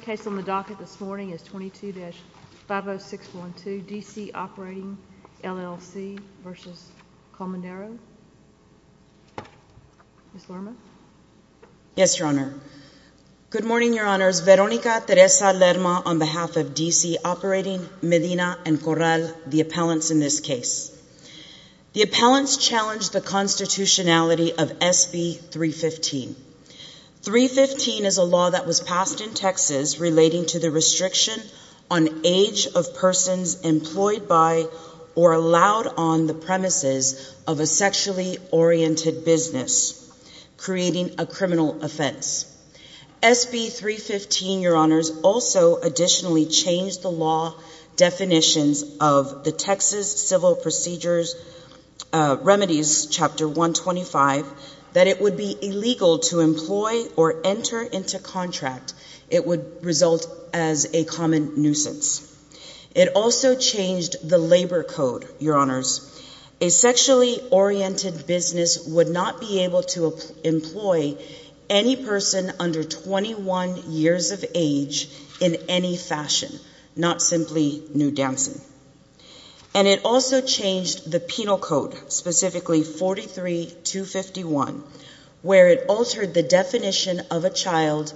The case on the docket this morning is 22-50612, D.C. Operating, L.L.C. v. Colmenero. Ms. Lerma. Yes, Your Honor. Good morning, Your Honors. Veronica Teresa Lerma on behalf of D.C. Operating, Medina, and Corral, the appellants in this case. The appellants challenge the constitutionality of SB 315. 315 is a law that was passed in Texas relating to the restriction on age of persons employed by or allowed on the premises of a sexually oriented business, creating a criminal offense. SB 315, Your Honors, also additionally changed the law definitions of the Texas Civil Procedures Remedies, Chapter 125, that it would be illegal to employ or enter into contract. It would result as a common nuisance. It also changed the labor code, Your Honors. A sexually oriented business would not be able to employ any person under 21 years of age in any fashion, not simply nude dancing. And it also changed the penal code, specifically 43-251, where it altered the definition of a child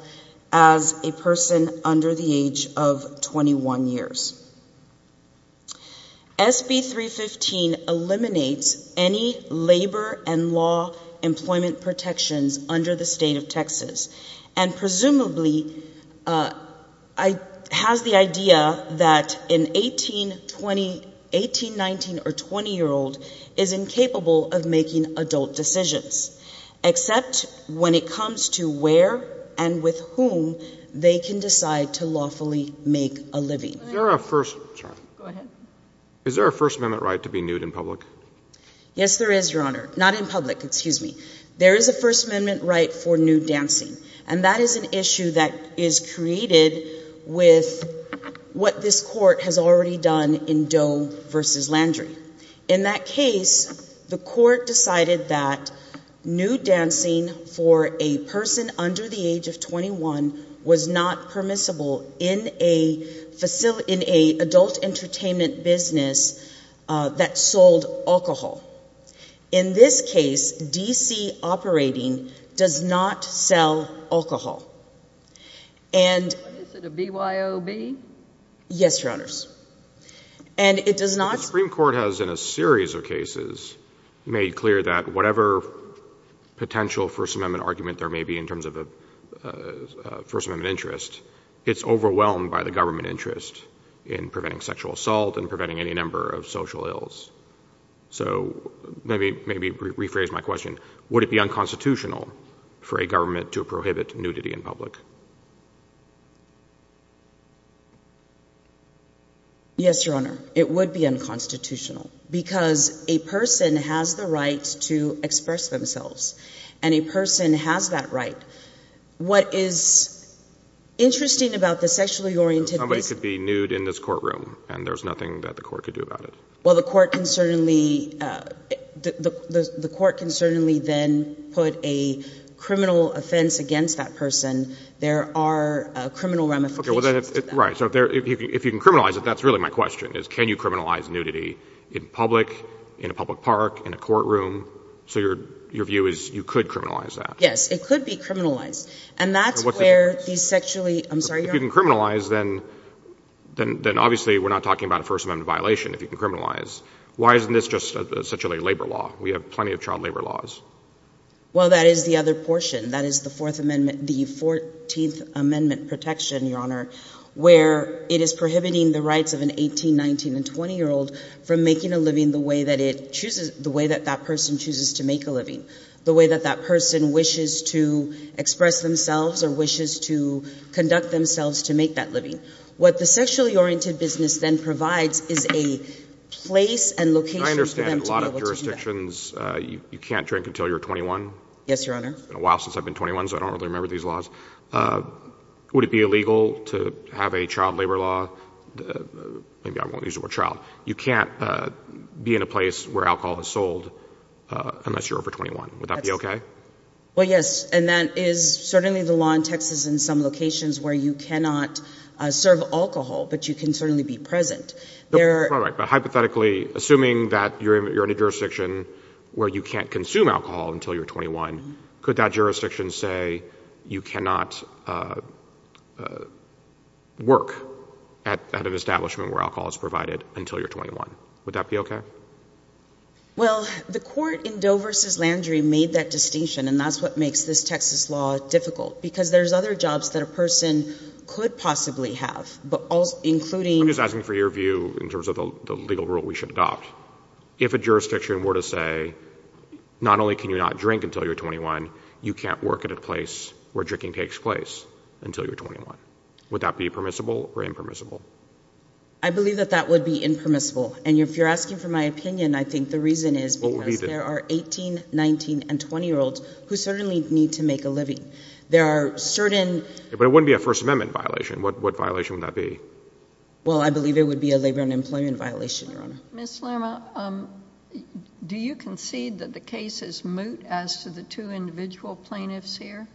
as a person under the age of 21 years. SB 315 eliminates any labor and law employment protections under the state of Texas and presumably has the idea that an 18, 19, or 20-year-old is incapable of making adult decisions, except when it comes to where and with whom they can decide to lawfully make a living. Is there a First Amendment right to be nude in public? Yes, there is, Your Honor. Not in public, excuse me. There is a First Amendment right for nude dancing. And that is an issue that is created with what this Court has already done in Doe v. Landry. In that case, the Court decided that nude dancing for a person under the age of 21 was not permissible in an adult entertainment business that sold alcohol. In this case, D.C. operating does not sell alcohol. Is it a BYOB? Yes, Your Honors. The Supreme Court has, in a series of cases, made clear that whatever potential First Amendment argument there may be in terms of a First Amendment interest, it's overwhelmed by the government interest in preventing sexual assault and preventing any number of social ills. So maybe rephrase my question. Would it be unconstitutional for a government to prohibit nudity in public? Yes, Your Honor. It would be unconstitutional because a person has the right to express themselves. And a person has that right. What is interesting about the sexually oriented— Somebody could be nude in this courtroom, and there's nothing that the Court could do about it. Well, the Court can certainly then put a criminal offense against that person. There are criminal ramifications to that. Right. So if you can criminalize it, that's really my question, is can you criminalize nudity in public, in a public park, in a courtroom? So your view is you could criminalize that? Yes, it could be criminalized. If you can criminalize, then obviously we're not talking about a First Amendment violation if you can criminalize. Why isn't this just such a labor law? We have plenty of child labor laws. Well, that is the other portion. That is the Fourth Amendment, the 14th Amendment protection, Your Honor, where it is prohibiting the rights of an 18-, 19-, and 20-year-old from making a living the way that it chooses—the way that that person chooses to make a living, the way that that person wishes to express themselves or wishes to conduct themselves to make that living. What the sexually oriented business then provides is a place and location for them to be able to do that. I understand a lot of jurisdictions, you can't drink until you're 21. Yes, Your Honor. It's been a while since I've been 21, so I don't really remember these laws. Would it be illegal to have a child labor law? Maybe I won't use the word child. You can't be in a place where alcohol is sold unless you're over 21. Would that be okay? Well, yes. And that is certainly the law in Texas in some locations where you cannot serve alcohol, but you can certainly be present. All right. But hypothetically, assuming that you're in a jurisdiction where you can't consume alcohol until you're 21, could that jurisdiction say you cannot work at an establishment where alcohol is provided until you're 21? Would that be okay? Well, the court in Doe v. Landry made that distinction, and that's what makes this Texas law difficult, because there's other jobs that a person could possibly have, including— I'm just asking for your view in terms of the legal rule we should adopt. If a jurisdiction were to say not only can you not drink until you're 21, you can't work at a place where drinking takes place until you're 21, would that be permissible or impermissible? I believe that that would be impermissible. And if you're asking for my opinion, I think the reason is because there are 18-, 19-, and 20-year-olds who certainly need to make a living. There are certain— But it wouldn't be a First Amendment violation. What violation would that be? Well, I believe it would be a labor and employment violation, Your Honor. Ms. Lerma, do you concede that the case is moot as to the two individual plaintiffs here?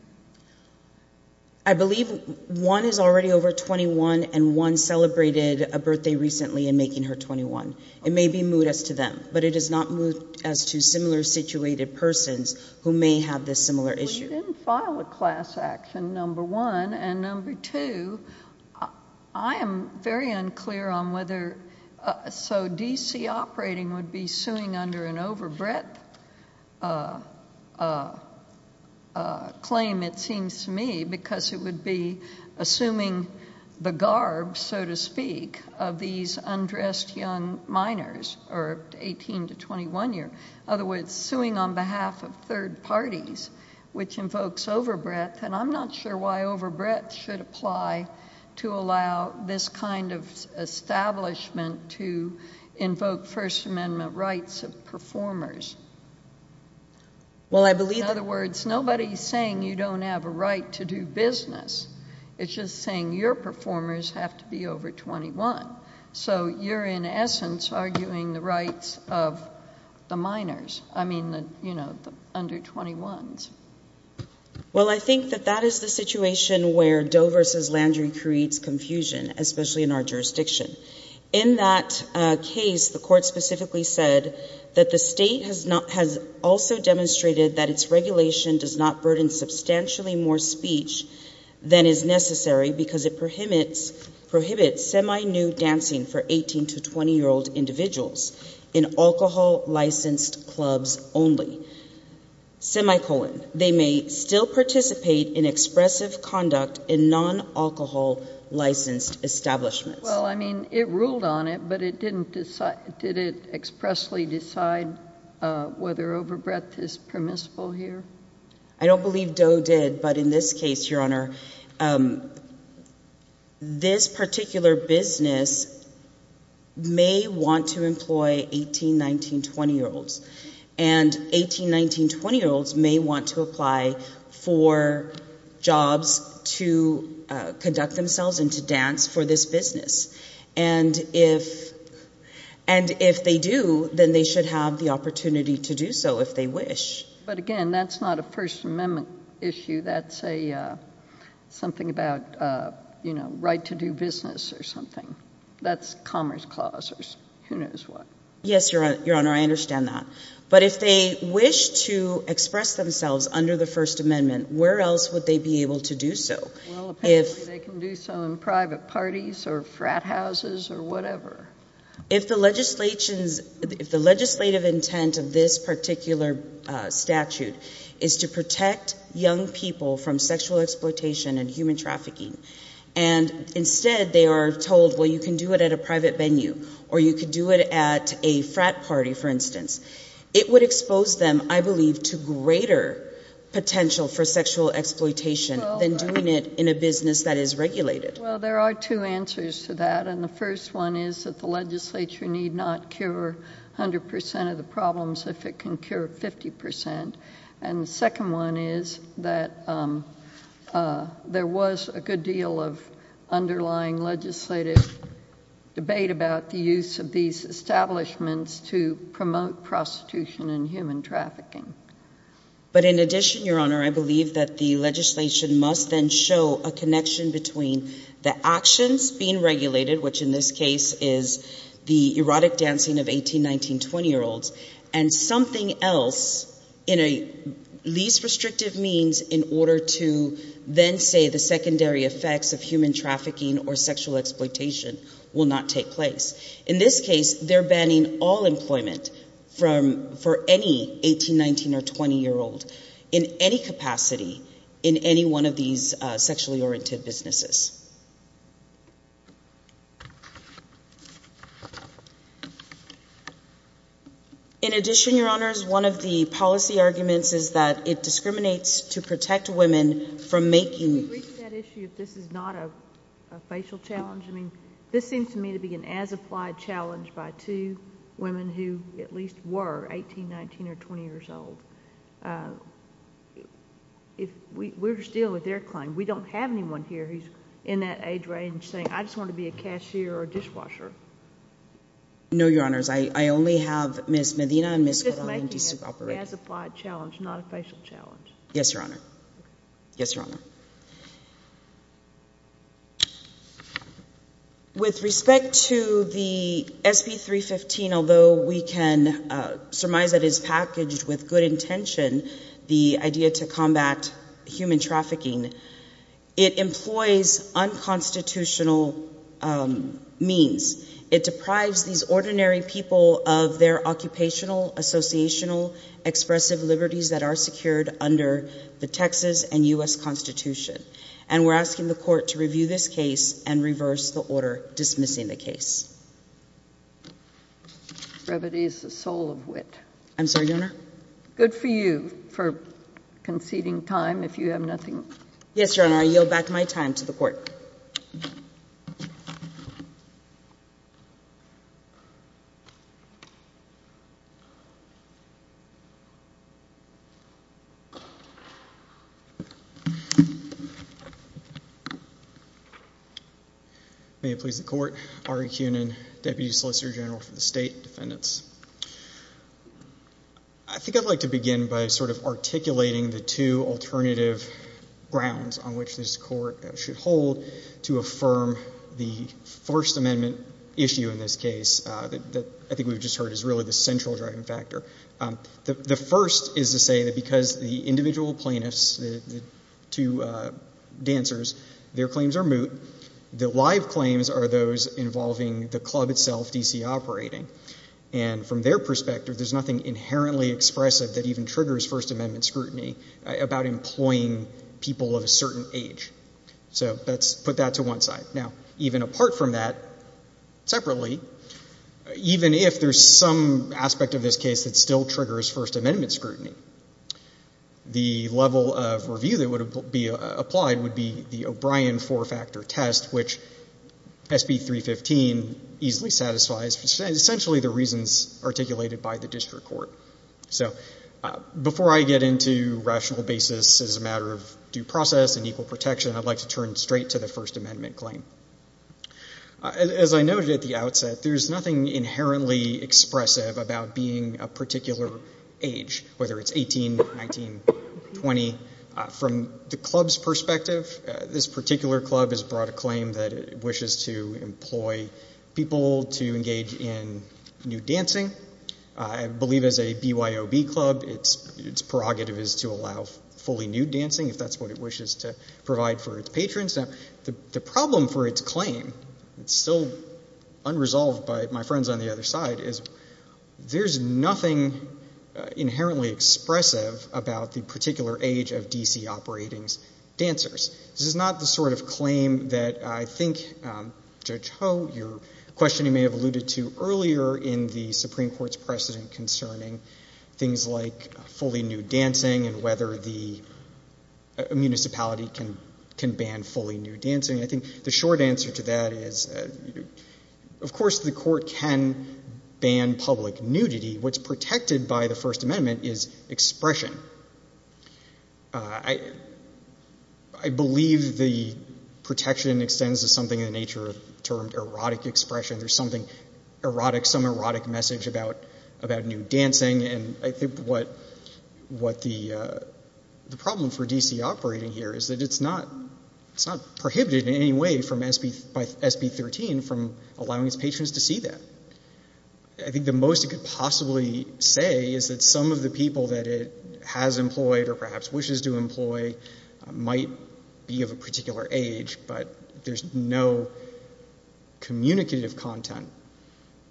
I believe one is already over 21, and one celebrated a birthday recently in making her 21. It may be moot as to them, but it is not moot as to similar-situated persons who may have this similar issue. They didn't file a class action, number one. And number two, I am very unclear on whether—so D.C. operating would be suing under an overbreadth claim, it seems to me, because it would be assuming the garb, so to speak, of these undressed young minors who are 18 to 21 years. In other words, suing on behalf of third parties, which invokes overbreadth. And I'm not sure why overbreadth should apply to allow this kind of establishment to invoke First Amendment rights of performers. Well, I believe— In other words, nobody is saying you don't have a right to do business. It's just saying your performers have to be over 21. So you're, in essence, arguing the rights of the minors, I mean, you know, the under-21s. Well, I think that that is the situation where Doe v. Landry creates confusion, especially in our jurisdiction. In that case, the Court specifically said that the State has also demonstrated that its regulation does not burden substantially more speech than is necessary because it prohibits semi-nude dancing for 18 to 20-year-old individuals in alcohol-licensed clubs only. Semicolon. They may still participate in expressive conduct in non-alcohol-licensed establishments. Well, I mean, it ruled on it, but it didn't—did it expressly decide whether overbreadth is permissible here? I don't believe Doe did, but in this case, Your Honor, this particular business may want to employ 18, 19, 20-year-olds. And 18, 19, 20-year-olds may want to apply for jobs to conduct themselves and to dance for this business. And if they do, then they should have the opportunity to do so if they wish. But, again, that's not a First Amendment issue. That's a—something about, you know, right to do business or something. That's Commerce Clause or who knows what. Yes, Your Honor, I understand that. But if they wish to express themselves under the First Amendment, where else would they be able to do so? Well, apparently they can do so in private parties or frat houses or whatever. If the legislations—if the legislative intent of this particular statute is to protect young people from sexual exploitation and human trafficking, and instead they are told, well, you can do it at a private venue or you can do it at a frat party, for instance, it would expose them, I believe, to greater potential for sexual exploitation than doing it in a business that is regulated. Well, there are two answers to that. And the first one is that the legislature need not cure 100 percent of the problems if it can cure 50 percent. And the second one is that there was a good deal of underlying legislative debate about the use of these establishments to promote prostitution and human trafficking. But in addition, Your Honor, I believe that the legislation must then show a connection between the actions being regulated, which in this case is the erotic dancing of 18, 19, 20-year-olds, and something else in a least restrictive means in order to then say the secondary effects of human trafficking or sexual exploitation will not take place. In this case, they're banning all employment for any 18, 19, or 20-year-old in any capacity in any one of these sexually oriented businesses. In addition, Your Honors, one of the policy arguments is that it discriminates to protect women from making… Can you read that issue if this is not a facial challenge? I mean, this seems to me to be an as-applied challenge by two women who at least were 18, 19, or 20 years old. We're just dealing with their claim. We don't have anyone here who's in that age range saying, I just want to be a cashier or a dishwasher. No, Your Honors. I only have Ms. Medina and Ms. Corral. It's just making it an as-applied challenge, not a facial challenge. Yes, Your Honor. With respect to the SB 315, although we can surmise that it is packaged with good intention, the idea to combat human trafficking, it employs unconstitutional means. It deprives these ordinary people of their occupational, associational, expressive liberties that are secured under the Texas and U.S. Constitution. And we're asking the Court to review this case and reverse the order dismissing the case. Brevity is the soul of wit. I'm sorry, Your Honor? Good for you for conceding time if you have nothing… Yes, Your Honor. And I yield back my time to the Court. May it please the Court. Ari Kunin, Deputy Solicitor General for the State Defendants. I think I'd like to begin by sort of articulating the two alternative grounds on which this Court should hold to affirm the First Amendment issue in this case that I think we've just heard is really the central driving factor. The first is to say that because the individual plaintiffs, the two dancers, their claims are moot. The live claims are those involving the club itself, D.C. operating. And from their perspective, there's nothing inherently expressive that even triggers First Amendment scrutiny about employing people of a certain age. So let's put that to one side. Now, even apart from that, separately, even if there's some aspect of this case that still triggers First Amendment scrutiny, the level of review that would be applied would be the O'Brien four-factor test, which SB 315 easily satisfies, essentially the reasons articulated by the District Court. So before I get into rational basis as a matter of due process and equal protection, I'd like to turn straight to the First Amendment claim. As I noted at the outset, there's nothing inherently expressive about being a particular age, whether it's 18, 19, 20. From the club's perspective, this particular club has brought a claim that it wishes to employ people to engage in nude dancing. I believe as a BYOB club, its prerogative is to allow fully nude dancing if that's what it wishes to provide for its patrons. Now, the problem for its claim, it's still unresolved by my friends on the other side, is there's nothing inherently expressive about the particular age of D.C. operating's dancers. This is not the sort of claim that I think, Judge Ho, your question you may have alluded to earlier in the Supreme Court's precedent concerning things like fully nude dancing and whether the municipality can ban fully nude dancing. I think the short answer to that is of course the court can ban public nudity. What's protected by the First Amendment is expression. I believe the protection extends to something in the nature of the term erotic expression. There's something erotic, some erotic message about nude dancing, and I think what the problem for D.C. operating here is that it's not prohibited in any way by SB 13 from allowing its patrons to see that. I think the most it could possibly say is that some of the people that it has employed or perhaps wishes to employ might be of a particular age, but there's no communicative content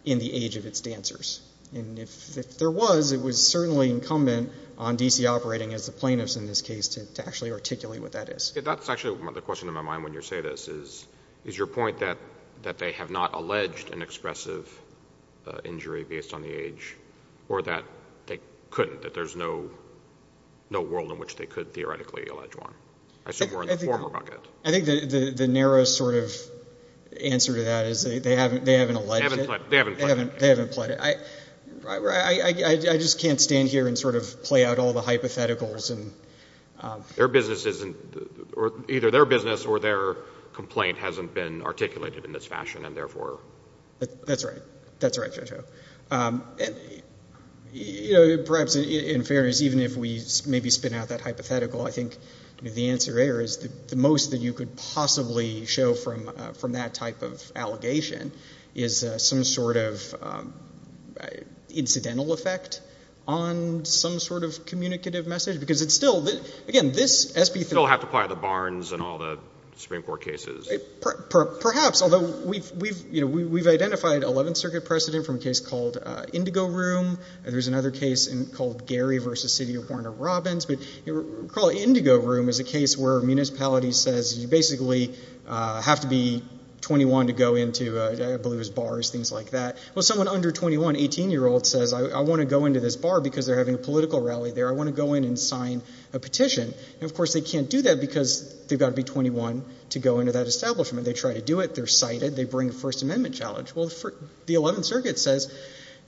in the age of its dancers. If there was, it was certainly incumbent on D.C. operating as the plaintiffs in this case to actually articulate what that is. That's actually the question in my mind when you say this. Is your point that they have not alleged an expressive injury based on the age or that they couldn't, that there's no world in which they could theoretically allege one? I assume we're in the former bucket. I think the narrow sort of answer to that is they haven't alleged it. They haven't pled it. They haven't pled it. I just can't stand here and sort of play out all the hypotheticals. Their business isn't, either their business or their complaint hasn't been articulated in this fashion and therefore. That's right. That's right, JoJo. Perhaps in fairness, even if we maybe spin out that hypothetical, I think the answer there is the most that you could possibly show from that type of allegation is some sort of incidental effect on some sort of communicative message because it's still, again, this SB. Still have to apply the Barnes and all the Supreme Court cases. Perhaps, although we've identified 11th Circuit precedent from a case called Indigo Room. There's another case called Gary v. City of Warner Robins. But Indigo Room is a case where a municipality says you basically have to be 21 to go into, I believe it was bars, things like that. Well, someone under 21, 18-year-old, says I want to go into this bar because they're having a political rally there. And, of course, they can't do that because they've got to be 21 to go into that establishment. They try to do it. They're cited. They bring a First Amendment challenge. Well, the 11th Circuit says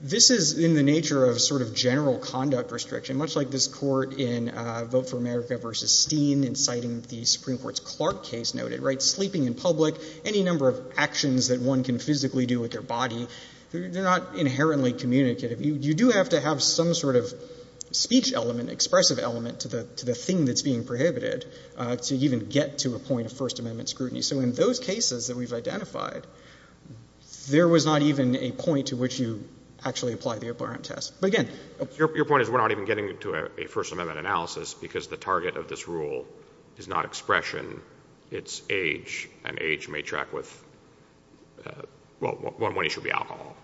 this is in the nature of sort of general conduct restriction, much like this court in Vote for America v. Steen in citing the Supreme Court's Clark case noted, right? Sleeping in public, any number of actions that one can physically do with their body, they're not inherently communicative. You do have to have some sort of speech element, expressive element to the thing that's being prohibited to even get to a point of First Amendment scrutiny. So in those cases that we've identified, there was not even a point to which you actually apply the OPRM test. But, again — Your point is we're not even getting to a First Amendment analysis because the target of this rule is not expression. It's age, and age may track with — well, one issue would be alcohol.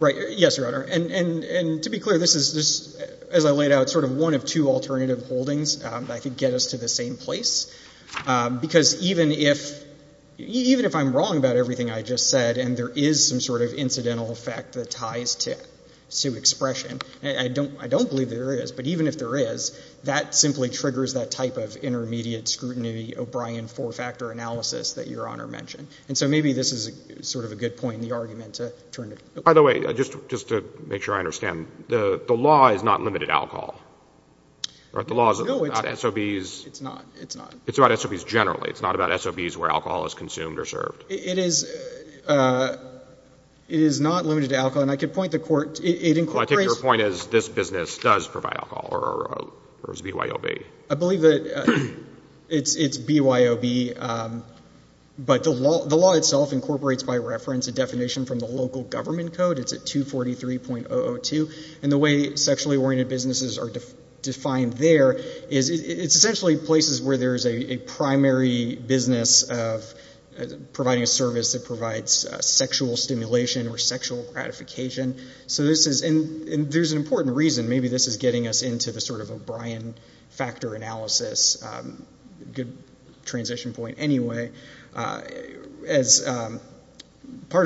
Right. Yes, Your Honor. And to be clear, this is, as I laid out, sort of one of two alternative holdings that could get us to the same place. Because even if I'm wrong about everything I just said and there is some sort of incidental effect that ties to expression, and I don't believe there is, but even if there is, that simply triggers that type of intermediate scrutiny, O'Brien four-factor analysis that Your Honor mentioned. And so maybe this is sort of a good point in the argument to turn to. By the way, just to make sure I understand, the law is not limited to alcohol, right? No, it's not. The law is not SOBs. It's not. It's not. It's about SOBs generally. It's not about SOBs where alcohol is consumed or served. It is not limited to alcohol. And I could point the Court — it incorporates — Well, I take your point as this business does provide alcohol or is BYOB. I believe that it's BYOB, but the law itself incorporates by reference a definition from the local government code. It's at 243.002. And the way sexually oriented businesses are defined there is it's essentially places where there is a primary business of providing a service that provides sexual stimulation or sexual gratification. So this is — and there's an important reason. Maybe this is getting us into the sort of O'Brien factor analysis. Good transition point anyway. Part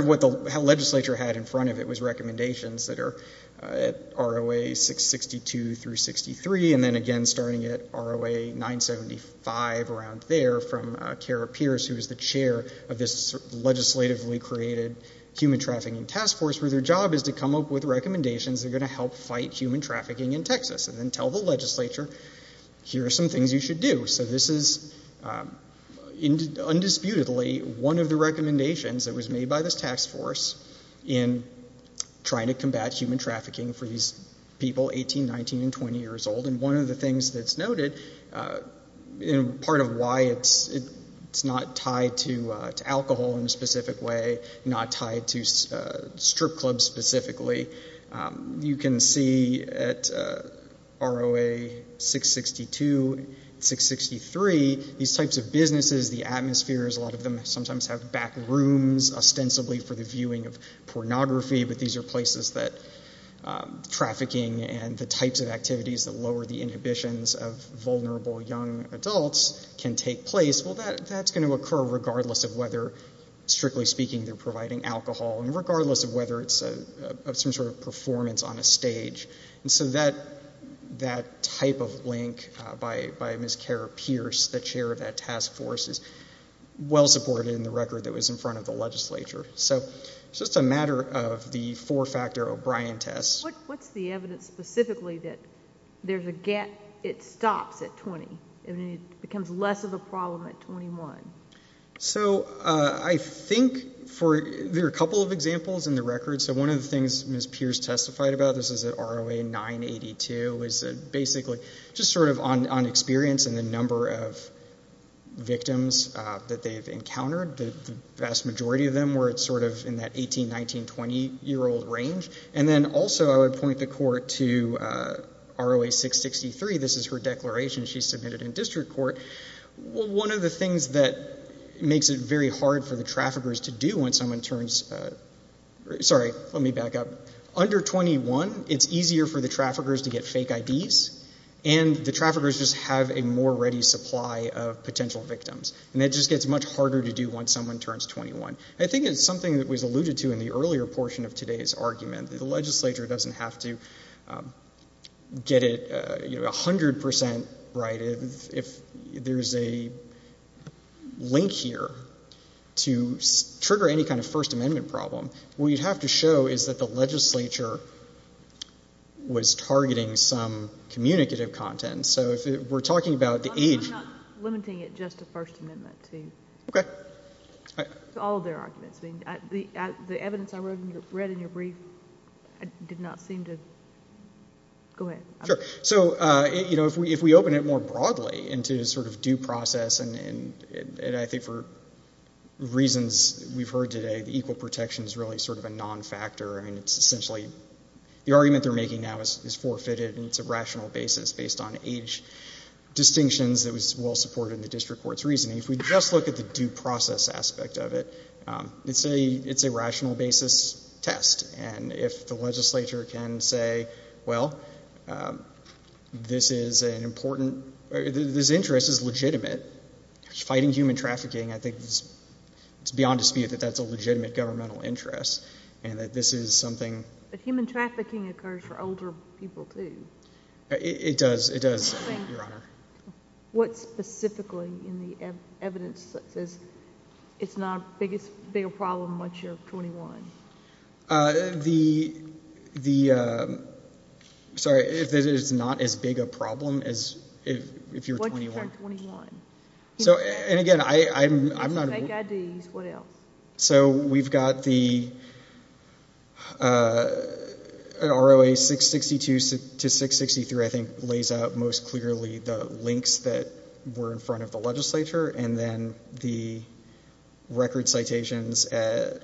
of what the legislature had in front of it was recommendations that are at ROA 662 through 63, and then again starting at ROA 975 around there from Kara Pierce, who is the chair of this legislatively created human trafficking task force, where their job is to come up with recommendations that are going to help fight human trafficking in Texas and then tell the legislature, here are some things you should do. So this is undisputedly one of the recommendations that was made by this task force in trying to combat human trafficking for these people 18, 19, and 20 years old. And one of the things that's noted in part of why it's not tied to alcohol in a specific way, not tied to strip clubs specifically, you can see at ROA 662 and 663, these types of businesses, the atmospheres, a lot of them sometimes have back rooms ostensibly for the viewing of pornography, but these are places that trafficking and the types of activities that lower the inhibitions of vulnerable young adults can take place. Well, that's going to occur regardless of whether, strictly speaking, they're providing alcohol, and regardless of whether it's some sort of performance on a stage. And so that type of link by Ms. Kara Pierce, the chair of that task force, is well supported in the record that was in front of the legislature. So it's just a matter of the four-factor O'Brien test. What's the evidence specifically that there's a gap, it stops at 20, and it becomes less of a problem at 21? So I think there are a couple of examples in the record. So one of the things Ms. Pierce testified about, this is at ROA 982, is basically just sort of on experience and the number of victims that they've encountered. The vast majority of them were sort of in that 18-, 19-, 20-year-old range. And then also I would point the court to ROA 663. This is her declaration she submitted in district court. One of the things that makes it very hard for the traffickers to do when someone turns— sorry, let me back up. Under 21, it's easier for the traffickers to get fake IDs, and the traffickers just have a more ready supply of potential victims. And it just gets much harder to do when someone turns 21. I think it's something that was alluded to in the earlier portion of today's argument, that the legislature doesn't have to get it 100% right. If there's a link here to trigger any kind of First Amendment problem, what you'd have to show is that the legislature was targeting some communicative content. So if we're talking about the age— I'm not limiting it just to First Amendment. Okay. To all of their arguments. The evidence I read in your brief did not seem to—go ahead. Sure. So, you know, if we open it more broadly into sort of due process, and I think for reasons we've heard today, the equal protection is really sort of a non-factor. I mean it's essentially—the argument they're making now is forfeited, and it's a rational basis based on age distinctions that was well supported in the district court's reasoning. If we just look at the due process aspect of it, it's a rational basis test. And if the legislature can say, well, this is an important—this interest is legitimate, fighting human trafficking, I think it's beyond dispute that that's a legitimate governmental interest and that this is something— It does. It does, Your Honor. What specifically in the evidence that says it's not a big problem once you're 21? The—sorry, if it is not as big a problem as if you're 21. Once you turn 21. So, and again, I'm not— If you take IDs, what else? So we've got the ROA 662 to 663, I think, lays out most clearly the links that were in front of the legislature and then the record citations at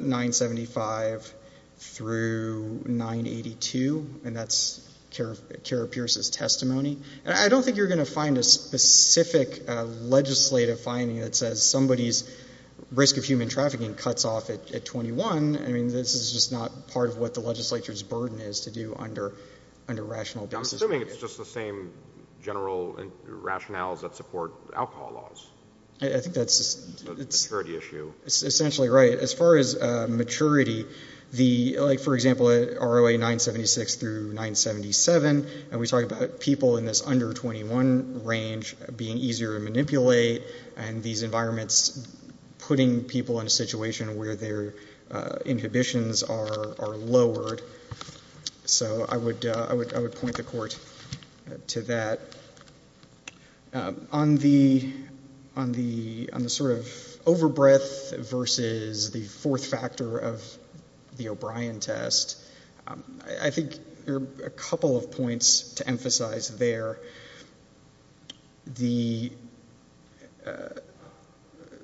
975 through 982, and that's Kara Pierce's testimony. And I don't think you're going to find a specific legislative finding that says somebody's risk of human trafficking cuts off at 21. I mean, this is just not part of what the legislature's burden is to do under rational basis. I'm assuming it's just the same general rationales that support alcohol laws. I think that's— It's a maturity issue. It's essentially right. As far as maturity, the—like, for example, ROA 976 through 977, and we talk about people in this under 21 range being easier to manipulate and these environments putting people in a situation where their inhibitions are lowered. So I would point the court to that. On the sort of over-breath versus the fourth factor of the O'Brien test, I think there are a couple of points to emphasize there. The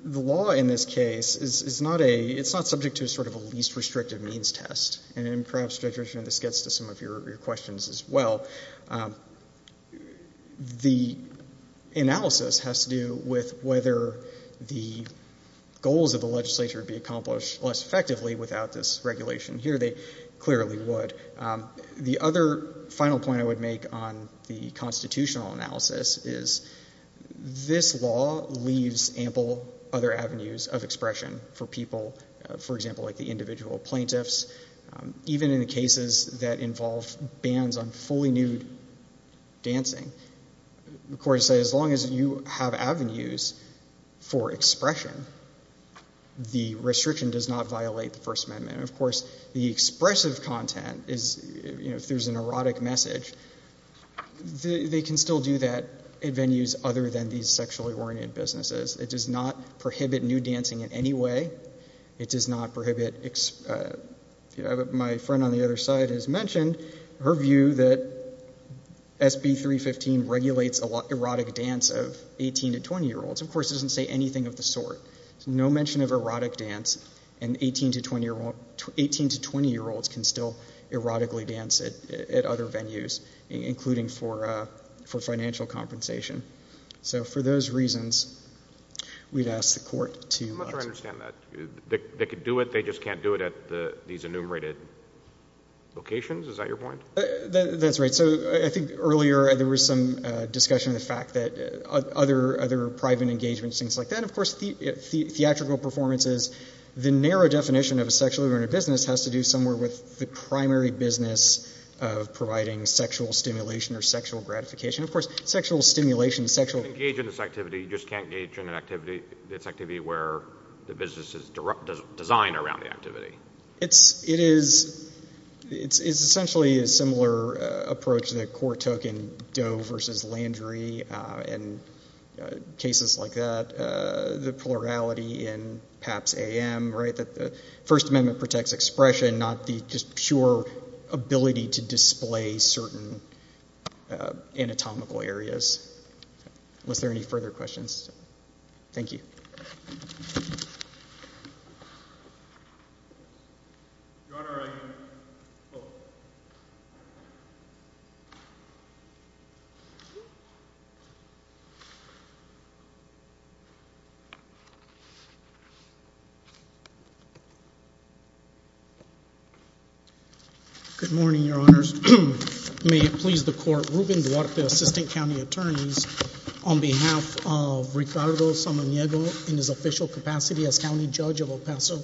law in this case is not a— it's not subject to sort of a least restrictive means test, and perhaps, Judge Richman, this gets to some of your questions as well. The analysis has to do with whether the goals of the legislature would be accomplished less effectively without this regulation. Here they clearly would. The other final point I would make on the constitutional analysis is this law leaves ample other avenues of expression for people, for example, like the individual plaintiffs. Even in the cases that involve bans on fully nude dancing, the court has said as long as you have avenues for expression, the restriction does not violate the First Amendment. And, of course, the expressive content is— if there's an erotic message, they can still do that in venues other than these sexually oriented businesses. It does not prohibit nude dancing in any way. It does not prohibit—my friend on the other side has mentioned her view that SB 315 regulates erotic dance of 18- to 20-year-olds. Of course, it doesn't say anything of the sort. There's no mention of erotic dance, and 18- to 20-year-olds can still erotically dance at other venues, including for financial compensation. So for those reasons, we'd ask the court to— I'm not sure I understand that. They could do it, they just can't do it at these enumerated locations? Is that your point? That's right. So I think earlier there was some discussion of the fact that other private engagements, things like that, and, of course, theatrical performances, the narrow definition of a sexually oriented business has to do somewhere with the primary business of providing sexual stimulation or sexual gratification. Of course, sexual stimulation, sexual— You can't engage in this activity, you just can't engage in this activity where the business is designed around the activity. It is essentially a similar approach to the court token, the Doe versus Landry and cases like that, the plurality in PAPS-AM, right, that the First Amendment protects expression, not the just pure ability to display certain anatomical areas. Was there any further questions? Thank you. Your Honor, I have a quote. Good morning, Your Honors. May it please the Court, Ruben Duarte, Assistant County Attorneys, on behalf of Ricardo Samaniego in his official capacity as County Judge of El Paso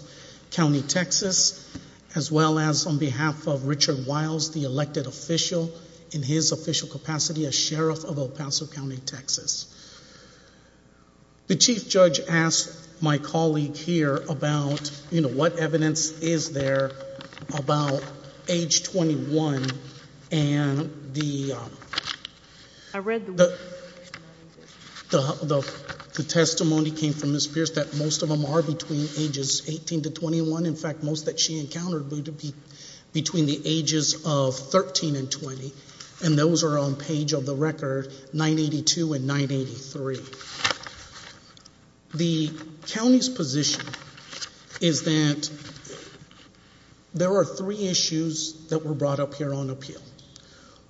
County, Texas, as well as on behalf of Richard Wiles, the elected official in his official capacity as Sheriff of El Paso County, Texas. The Chief Judge asked my colleague here about, you know, what evidence is there about age 21 and the— The testimony came from Ms. Pierce that most of them are between ages 18 to 21. In fact, most that she encountered would be between the ages of 13 and 20, and those are on page of the record 982 and 983. The county's position is that there are three issues that were brought up here on appeal.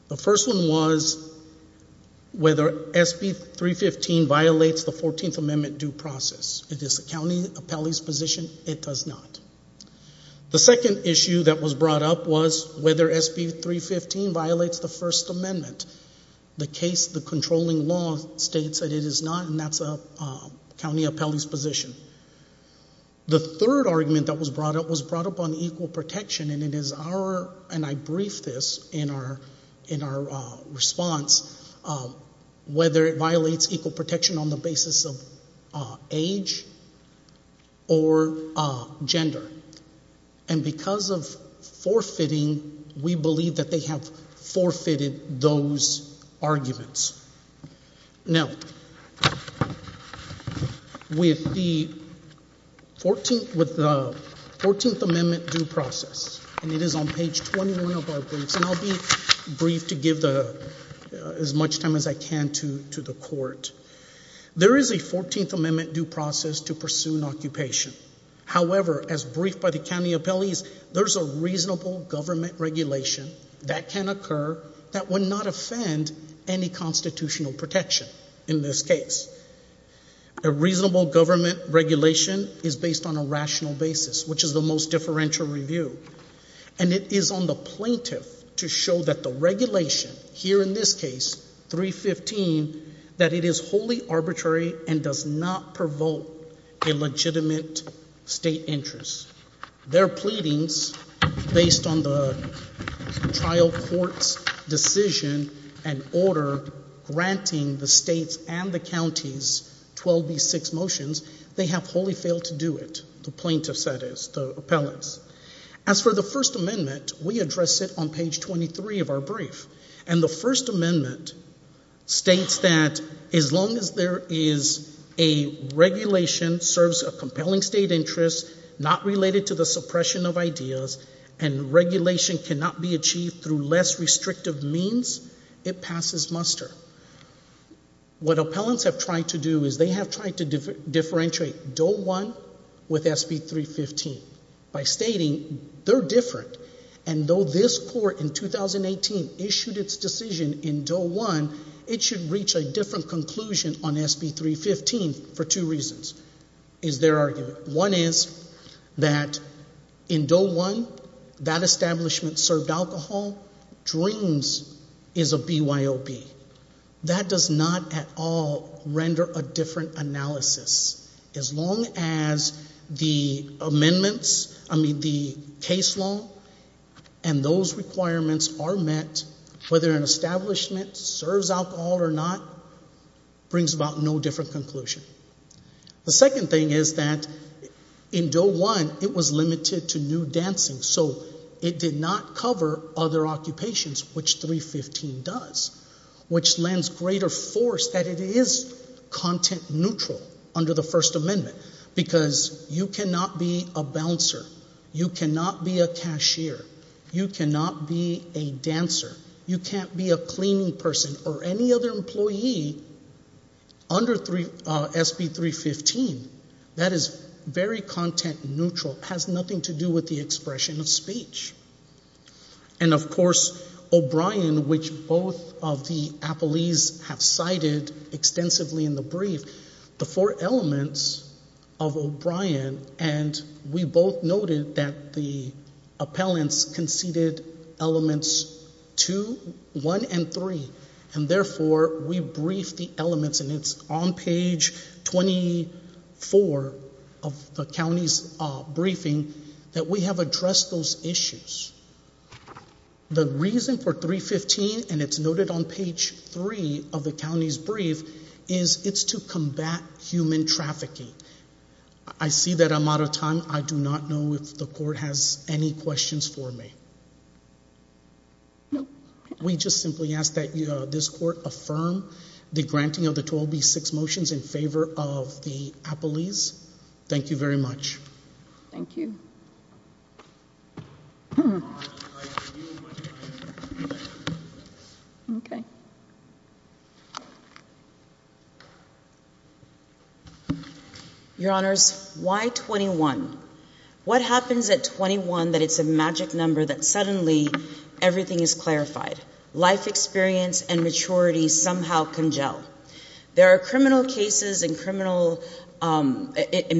The first one was whether SB 315 violates the 14th Amendment due process. It is the county appellee's position. It does not. The second issue that was brought up was whether SB 315 violates the First Amendment. The case, the controlling law states that it is not, and that's a county appellee's position. The third argument that was brought up was brought up on equal protection, and it is our—and I briefed this in our response— whether it violates equal protection on the basis of age or gender. And because of forfeiting, we believe that they have forfeited those arguments. Now, with the 14th Amendment due process, and it is on page 21 of our briefs, and I'll be brief to give as much time as I can to the court. There is a 14th Amendment due process to pursue an occupation. However, as briefed by the county appellees, there's a reasonable government regulation that can occur that would not offend any constitutional protection in this case. A reasonable government regulation is based on a rational basis, which is the most differential review. And it is on the plaintiff to show that the regulation, here in this case, 315, that it is wholly arbitrary and does not provoke a legitimate state interest. Their pleadings, based on the trial court's decision and order granting the states and the counties 12B6 motions, they have wholly failed to do it, the plaintiffs, that is, the appellants. As for the First Amendment, we address it on page 23 of our brief. And the First Amendment states that as long as there is a regulation serves a compelling state interest, not related to the suppression of ideas, and regulation cannot be achieved through less restrictive means, it passes muster. What appellants have tried to do is they have tried to differentiate Doe 1 with SB 315 by stating they're different. And though this court, in 2018, issued its decision in Doe 1, it should reach a different conclusion on SB 315 for two reasons, is their argument. One is that in Doe 1, that establishment served alcohol. Dreams is a BYOP. That does not at all render a different analysis. As long as the amendments, I mean, the case law, and those requirements are met, whether an establishment serves alcohol or not brings about no different conclusion. The second thing is that in Doe 1, it was limited to nude dancing, so it did not cover other occupations, which 315 does, which lends greater force that it is content neutral under the First Amendment, because you cannot be a bouncer. You cannot be a cashier. You cannot be a dancer. You can't be a cleaning person or any other employee under SB 315. That is very content neutral. It has nothing to do with the expression of speech. And, of course, O'Brien, which both of the appellees have cited extensively in the brief, the four elements of O'Brien, and we both noted that the appellants conceded elements 2, 1, and 3, and therefore we briefed the elements, and it's on page 24 of the county's briefing that we have addressed those issues. The reason for 315, and it's noted on page 3 of the county's brief, is it's to combat human trafficking. I see that I'm out of time. I do not know if the court has any questions for me. No? We just simply ask that this court affirm the granting of the 12B6 motions in favor of the appellees. Thank you very much. Thank you. Okay. Your Honors, why 21? What happens at 21 that it's a magic number that suddenly everything is clarified? Life experience and maturity somehow congeal? There are criminal cases in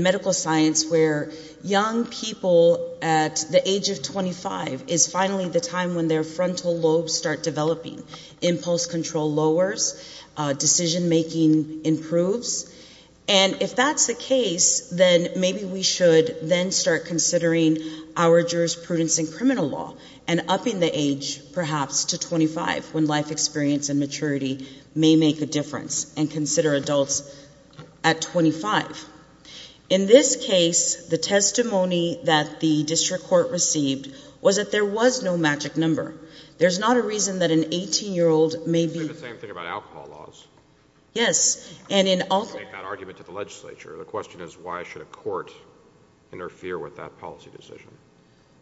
medical science where young people at the age of 25 is finally the time when their frontal lobes start developing. Impulse control lowers. Decision-making improves. And if that's the case, then maybe we should then start considering our jurisprudence in criminal law and upping the age perhaps to 25 when life experience and maturity may make a difference and consider adults at 25. In this case, the testimony that the district court received was that there was no magic number. There's not a reason that an 18-year-old may be... It's really the same thing about alcohol laws. Yes, and in all... I don't want to make that argument to the legislature. The question is, why should a court interfere with that policy decision?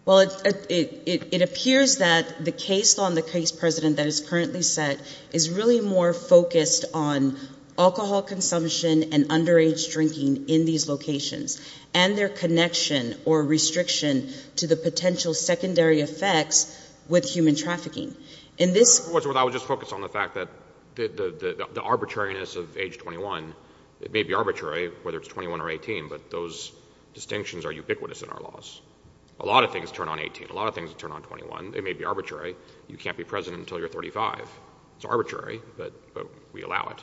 Well, it appears that the case law and the case precedent that is currently set is really more focused on alcohol consumption and underage drinking in these locations and their connection or restriction to the potential secondary effects with human trafficking. In this... I would just focus on the fact that the arbitrariness of age 21, it may be arbitrary whether it's 21 or 18, but those distinctions are ubiquitous in our laws. A lot of things turn on 18, a lot of things turn on 21. It may be arbitrary. You can't be president until you're 35. It's arbitrary, but we allow it.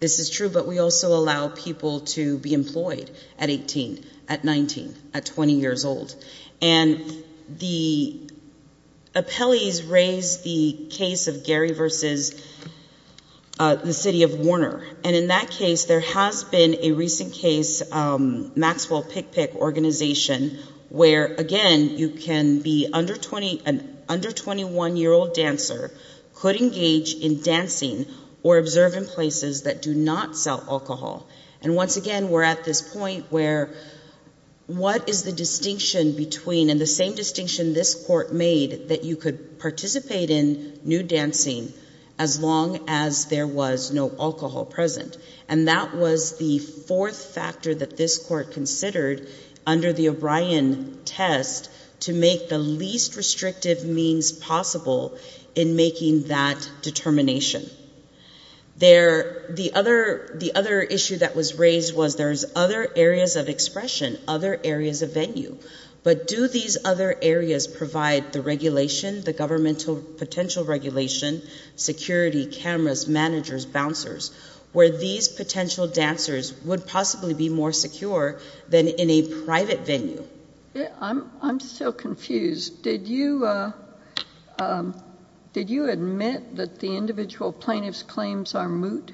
This is true, but we also allow people to be employed at 18, at 19, at 20 years old. And the appellees raised the case of Gary v. the city of Warner, and in that case, there has been a recent case, Maxwell Pickpick Organization, where, again, you can be an under-21-year-old dancer, could engage in dancing or observe in places that do not sell alcohol. And once again, we're at this point where what is the distinction between, and the same distinction this court made, that you could participate in nude dancing as long as there was no alcohol present. And that was the fourth factor that this court considered under the O'Brien test to make the least restrictive means possible in making that determination. The other issue that was raised was there's other areas of expression, other areas of venue, but do these other areas provide the regulation, the governmental potential regulation, security, cameras, managers, bouncers, where these potential dancers would possibly be more secure than in a private venue? I'm still confused. Did you admit that the individual plaintiff's claims are moot?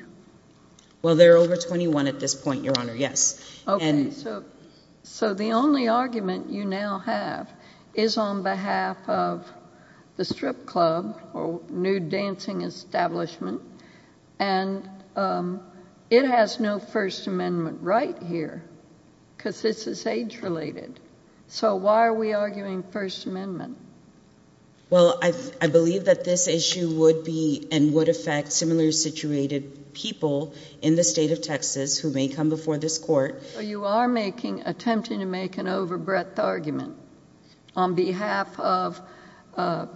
Well, there are over 21 at this point, Your Honor, yes. Okay, so the only argument you now have is on behalf of the strip club or nude dancing establishment, and it has no First Amendment right here because this is age-related. So why are we arguing First Amendment? Well, I believe that this issue would be and would affect similarly situated people in the state of Texas who may come before this court. So you are attempting to make an overbreadth argument on behalf of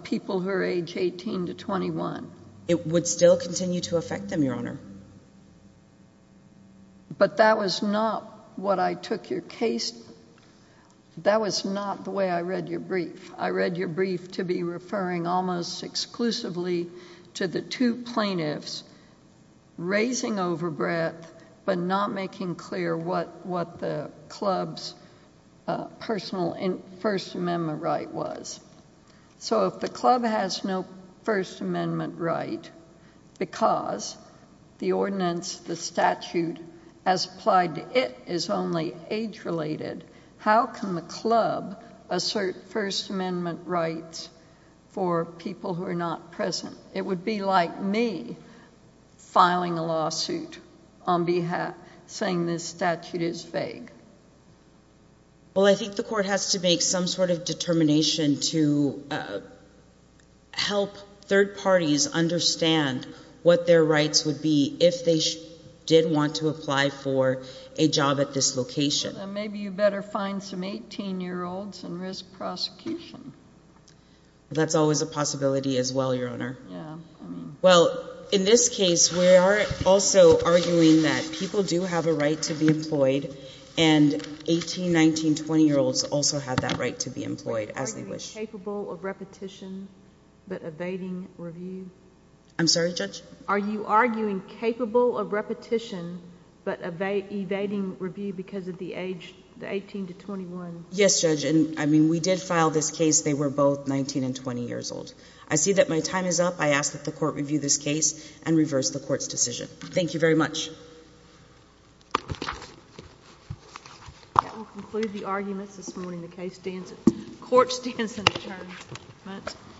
people who are age 18 to 21? It would still continue to affect them, Your Honor. But that was not what I took your case... That was not the way I read your brief. I read your brief to be referring almost exclusively to the two plaintiffs raising overbreadth but not making clear what the club's personal First Amendment right was. So if the club has no First Amendment right because the ordinance, the statute, as applied to it is only age-related, how can the club assert First Amendment rights for people who are not present? It would be like me filing a lawsuit saying this statute is vague. Well, I think the court has to make some sort of determination to help third parties understand what their rights would be if they did want to apply for a job at this location. Then maybe you better find some 18-year-olds and risk prosecution. That's always a possibility as well, Your Honor. Well, in this case, we are also arguing that people do have a right to be employed and 18-, 19-, 20-year-olds also have that right to be employed as they wish. Are you arguing capable of repetition but evading review? I'm sorry, Judge? Are you arguing capable of repetition but evading review because of the age 18 to 21? Yes, Judge. I mean, we did file this case. They were both 19 and 20 years old. I see that my time is up. I ask that the court review this case and reverse the court's decision. Thank you very much. That will conclude the arguments this morning. The court stands adjourned.